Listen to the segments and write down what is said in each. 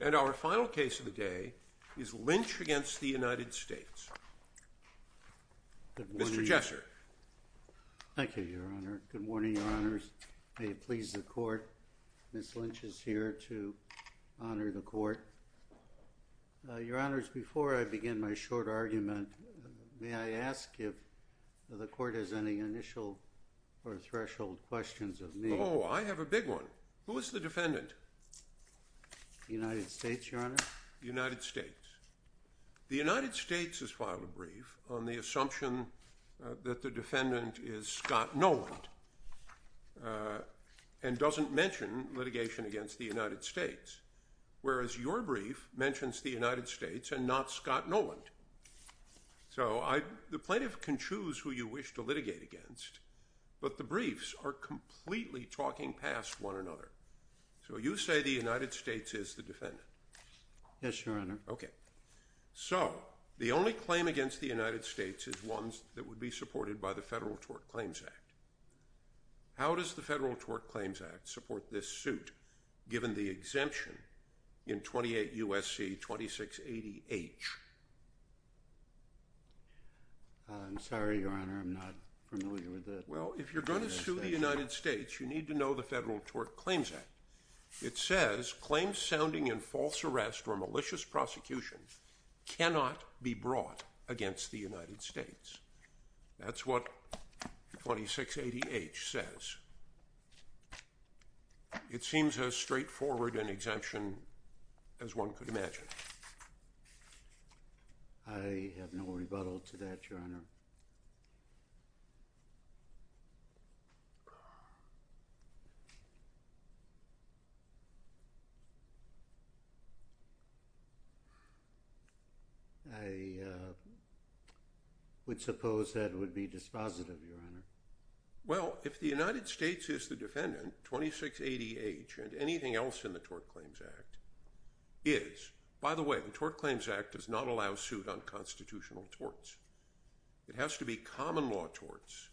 And our final case of the day is Lynch v. United States. Mr. Jesser. Thank you, Your Honor. Good morning, Your Honors. May it please the Court, Ms. Lynch is here to honor the Court. Your Honors, before I begin my short argument, may I ask if the Court has any initial or threshold questions of me? Oh, I have a big one. Who is the defendant? The United States, Your Honor. The United States. The United States has filed a brief on the assumption that the defendant is Scott Noland and doesn't mention litigation against the United States, whereas your brief mentions the United States and not Scott Noland. So the plaintiff can choose who you wish to litigate against, but the briefs are completely talking past one another. So you say the United States is the defendant? Yes, Your Honor. Okay. So the only claim against the United States is one that would be supported by the Federal Tort Claims Act. How does the Federal Tort Claims Act support this suit, given the exemption in 28 U.S.C. 2680H? I'm sorry, Your Honor, I'm not familiar with the United States. You need to know the Federal Tort Claims Act. It says claims sounding in false arrest or malicious prosecution cannot be brought against the United States. That's what 2680H says. It seems as straightforward an exemption as one could imagine. I have no rebuttal to that, Your Honor. I would suppose that would be dispositive, Your Honor. Well, if the United States is the defendant, 2680H and anything else in the Tort Claims Act is. By the way, the Tort Claims Act does not allow suit on constitutional torts. It has to be common law torts,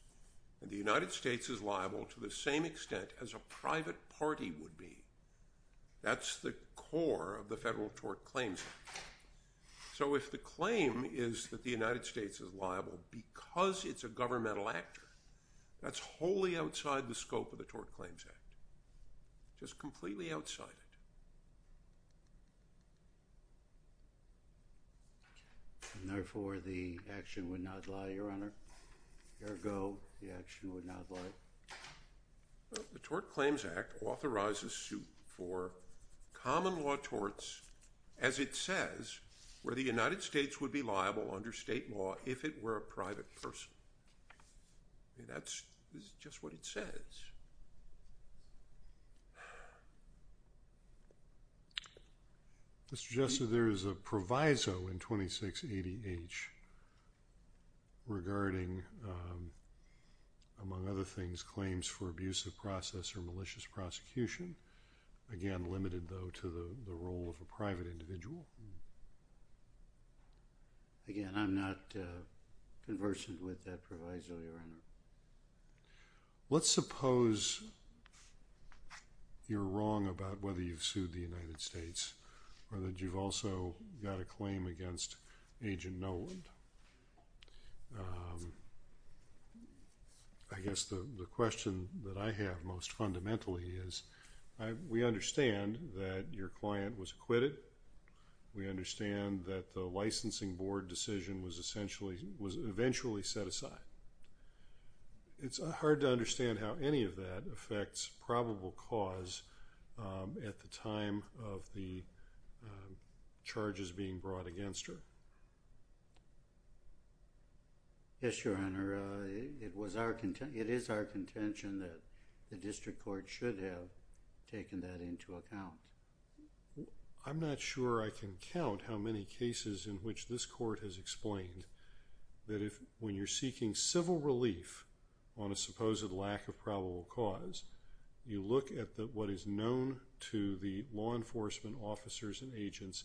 and the United States is liable to the same extent as a private party would be. That's the core of the Federal Tort Claims Act. So if the claim is that the United States is liable because it's a governmental actor, that's wholly outside the scope of the Tort Claims Act, just completely outside it. And therefore, the action would not lie, Your Honor? Ergo, the action would not lie? The Tort Claims Act authorizes suit for common law torts, as it says, where the United States would be liable under state law if it were a private person. That's just what it says. Mr. Jessup, there is a proviso in 2680H regarding, among other things, claims for abusive process or malicious prosecution. Again, limited, though, to the role of a private individual. Again, I'm not conversant with that proviso, Your Honor. Let's suppose you're wrong about whether you've sued the United States or that you've also got a claim against Agent Noland. I guess the question that I have most fundamentally is, we understand that your client was acquitted. We understand that the licensing board decision was eventually set aside. It's hard to understand how any of that affects probable cause at the time of the charges being brought against her. Yes, Your Honor. It is our contention that the district court should have taken that into account. I'm not sure I can count how many cases in which this court has explained that when you're seeking civil relief on a supposed lack of probable cause, you look at what is known to the law enforcement officers and agents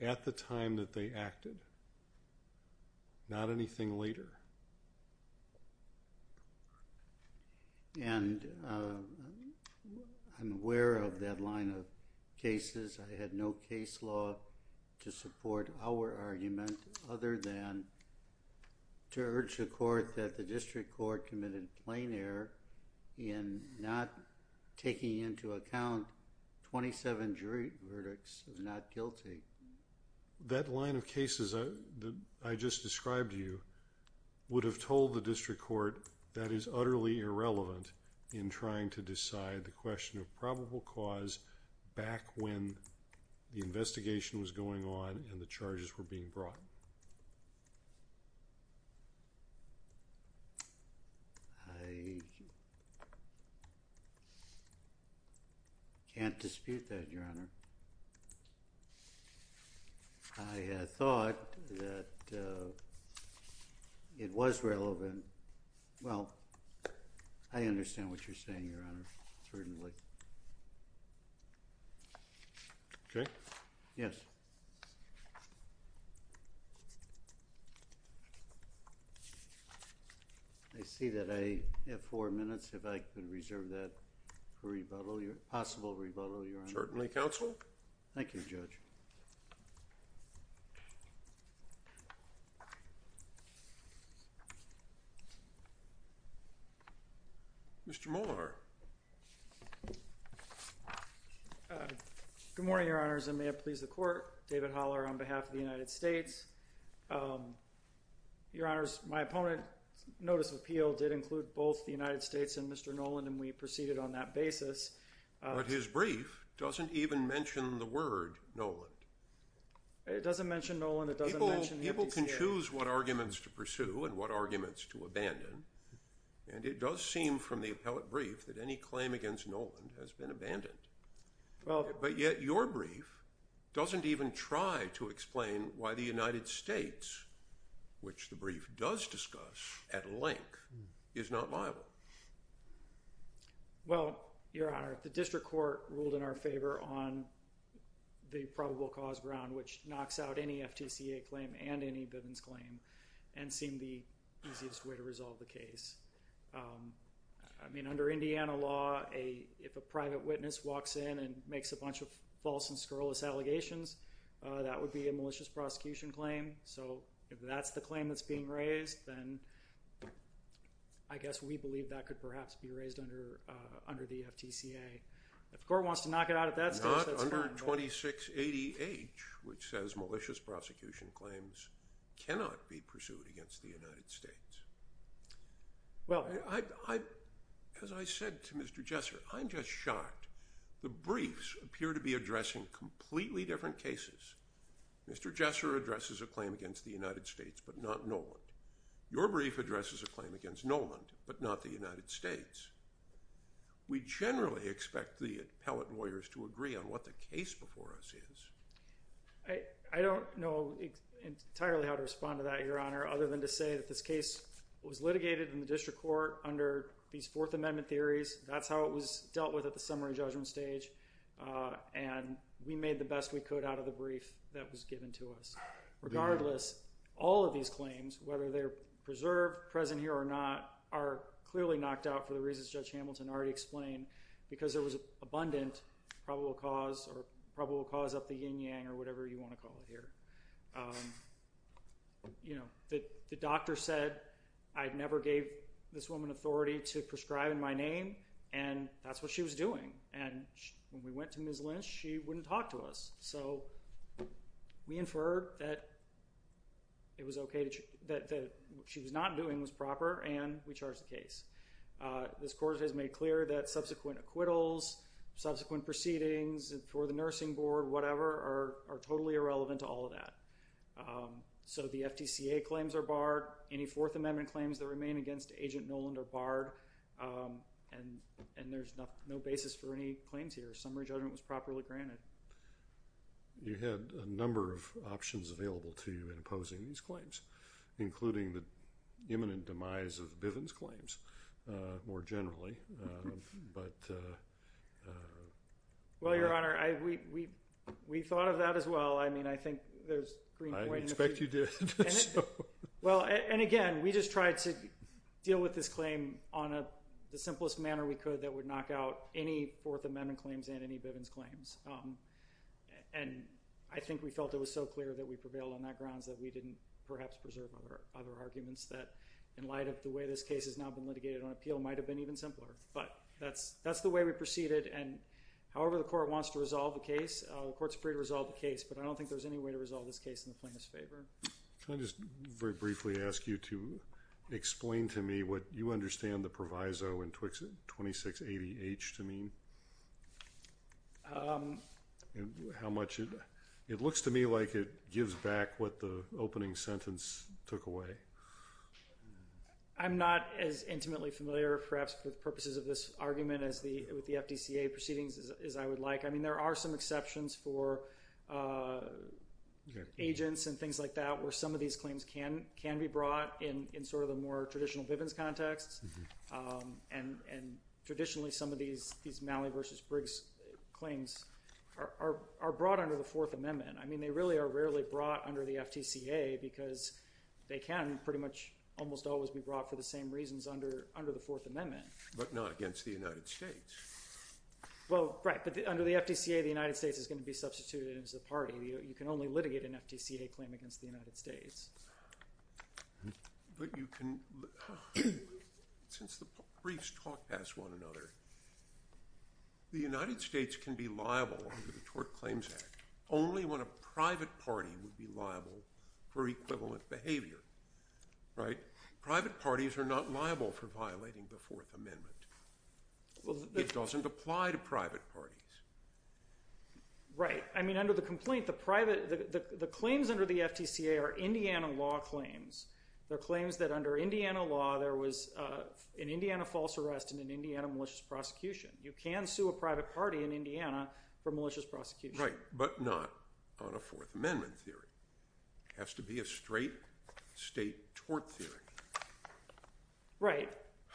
at the time that they acted, not anything later. And I'm aware of that line of cases. I had no case law to support our argument other than to urge the court that the district court committed plain error in not taking into account 27 jury verdicts of not guilty. That line of cases that I just described to you would have told the district court that is utterly irrelevant in trying to decide the question of probable cause back when the investigation was going on and the charges were being brought. I can't dispute that, Your Honor. I thought that it was relevant. Well, I understand what you're saying, Your Honor. Certainly. Okay. Yes. I see that I have four minutes if I can reserve that for a possible rebuttal, Your Honor. Certainly, Counsel. Thank you, Judge. Mr. Moore. Good morning, Your Honors. I may have pleased the court. David Holler on behalf of the United States. Your Honors, my opponent's notice of appeal did include both the United States and Mr. Noland, and we proceeded on that basis. But his brief doesn't even mention the word Noland. It doesn't mention Noland. People can choose what arguments to pursue and what arguments to abandon, and it does seem from the appellate brief that any claim against Noland has been abandoned. But yet your brief doesn't even try to explain why the United States, which the brief does discuss at length, is not liable. Well, Your Honor, the district court ruled in our favor on the probable cause ground, which knocks out any FTCA claim and any Bivens claim and seemed the easiest way to resolve the case. I mean, under Indiana law, if a private witness walks in and makes a bunch of false and scurrilous allegations, that would be a malicious prosecution claim. So if that's the claim that's being raised, then I guess we believe that could perhaps be raised under the FTCA. If the court wants to knock it out at that stage, that's fine. Not under 2680H, which says malicious prosecution claims cannot be pursued against the United States. As I said to Mr. Jesser, I'm just shocked. The briefs appear to be addressing completely different cases. Mr. Jesser addresses a claim against the United States, but not Noland. Your brief addresses a claim against Noland, but not the United States. We generally expect the appellate lawyers to agree on what the case before us is. I don't know entirely how to respond to that, Your Honor, other than to say that this case was litigated in the district court under these Fourth Amendment theories. That's how it was dealt with at the summary judgment stage, and we made the best we could out of the brief that was given to us. Regardless, all of these claims, whether they're preserved, present here or not, are clearly knocked out for the reasons Judge Hamilton already explained, because there was abundant probable cause or probable cause of the yin-yang or whatever you want to call it here. The doctor said, I never gave this woman authority to prescribe in my name, and that's what she was doing. And when we went to Ms. Lynch, she wouldn't talk to us. So we inferred that what she was not doing was proper, and we charged the case. This court has made clear that subsequent acquittals, subsequent proceedings for the nursing board, whatever, are totally irrelevant to all of that. So the FTCA claims are barred. Any Fourth Amendment claims that remain against Agent Noland are barred, and there's no basis for any claims here. Summary judgment was properly granted. You had a number of options available to you in opposing these claims, including the imminent demise of Bivens claims, more generally. Well, Your Honor, we thought of that as well. I mean, I think there's green point in this. I expect you did. Well, and again, we just tried to deal with this claim on the simplest manner we could that would knock out any Fourth Amendment claims and any Bivens claims. And I think we felt it was so clear that we prevailed on that grounds that we didn't perhaps preserve other arguments that, in light of the way this case has now been litigated on appeal, might have been even simpler. But that's the way we proceeded. And however the court wants to resolve the case, the court's free to resolve the case. But I don't think there's any way to resolve this case in the plaintiff's favor. Can I just very briefly ask you to explain to me what you understand the proviso in 2680H to mean? How much it looks to me like it gives back what the opening sentence took away. I'm not as intimately familiar, perhaps for the purposes of this argument, with the FTCA proceedings as I would like. I mean, there are some exceptions for agents and things like that where some of these claims can be brought in sort of the more traditional Bivens context. And traditionally, some of these Malley v. Briggs claims are brought under the Fourth Amendment. I mean, they really are rarely brought under the FTCA because they can pretty much almost always be brought for the same reasons under the Fourth Amendment. But not against the United States. Well, right. But under the FTCA, the United States is going to be substituted into the party. You can only litigate an FTCA claim against the United States. But you can, since the briefs talk past one another, the United States can be liable under the Tort Claims Act only when a private party would be liable for equivalent behavior. Right? Private parties are not liable for violating the Fourth Amendment. It doesn't apply to private parties. Right. I mean, under the complaint, the claims under the FTCA are Indiana law claims. They're claims that under Indiana law, there was an Indiana false arrest and an Indiana malicious prosecution. You can sue a private party in Indiana for malicious prosecution. Right. But not on a Fourth Amendment theory. It has to be a straight state tort theory. Right.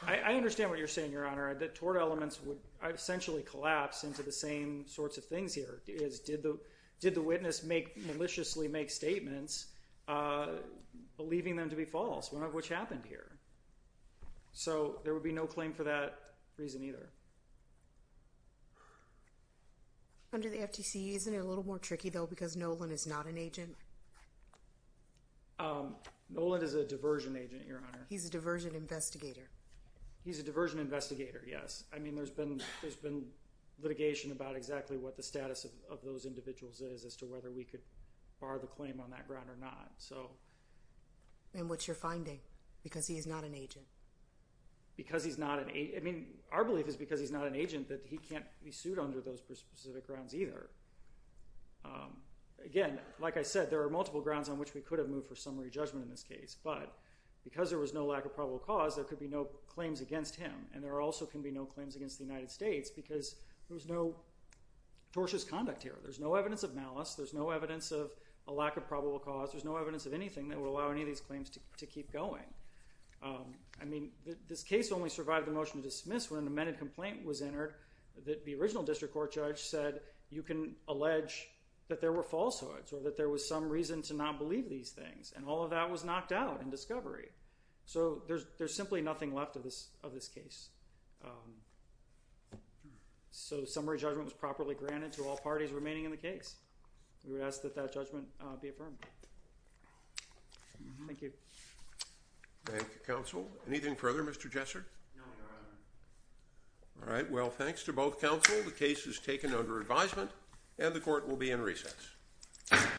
I understand what you're saying, Your Honor. The tort elements would essentially collapse into the same sorts of things here. Did the witness maliciously make statements, believing them to be false, which happened here? So there would be no claim for that reason either. Under the FTCA, isn't it a little more tricky, though, because Nolan is not an agent? Nolan is a diversion agent, Your Honor. He's a diversion investigator. He's a diversion investigator, yes. I mean, there's been litigation about exactly what the status of those individuals is as to whether we could bar the claim on that ground or not. And what's your finding? Because he's not an agent. Because he's not an agent. I mean, our belief is because he's not an agent that he can't be sued under those specific grounds either. Again, like I said, there are multiple grounds on which we could have moved for summary judgment in this case. But because there was no lack of probable cause, there could be no claims against him. And there also can be no claims against the United States because there was no tortious conduct here. There's no evidence of malice. There's no evidence of a lack of probable cause. There's no evidence of anything that would allow any of these claims to keep going. I mean, this case only survived the motion to dismiss when an amended complaint was entered that the original district court judge said you can allege that there were falsehoods or that there was some reason to not believe these things. And all of that was knocked out in discovery. So there's simply nothing left of this case. So summary judgment was properly granted to all parties remaining in the case. We would ask that that judgment be affirmed. Thank you. Thank you, counsel. Anything further, Mr. Jesser? No, Your Honor. All right. Well, thanks to both counsel. The case is taken under advisement and the court will be in recess.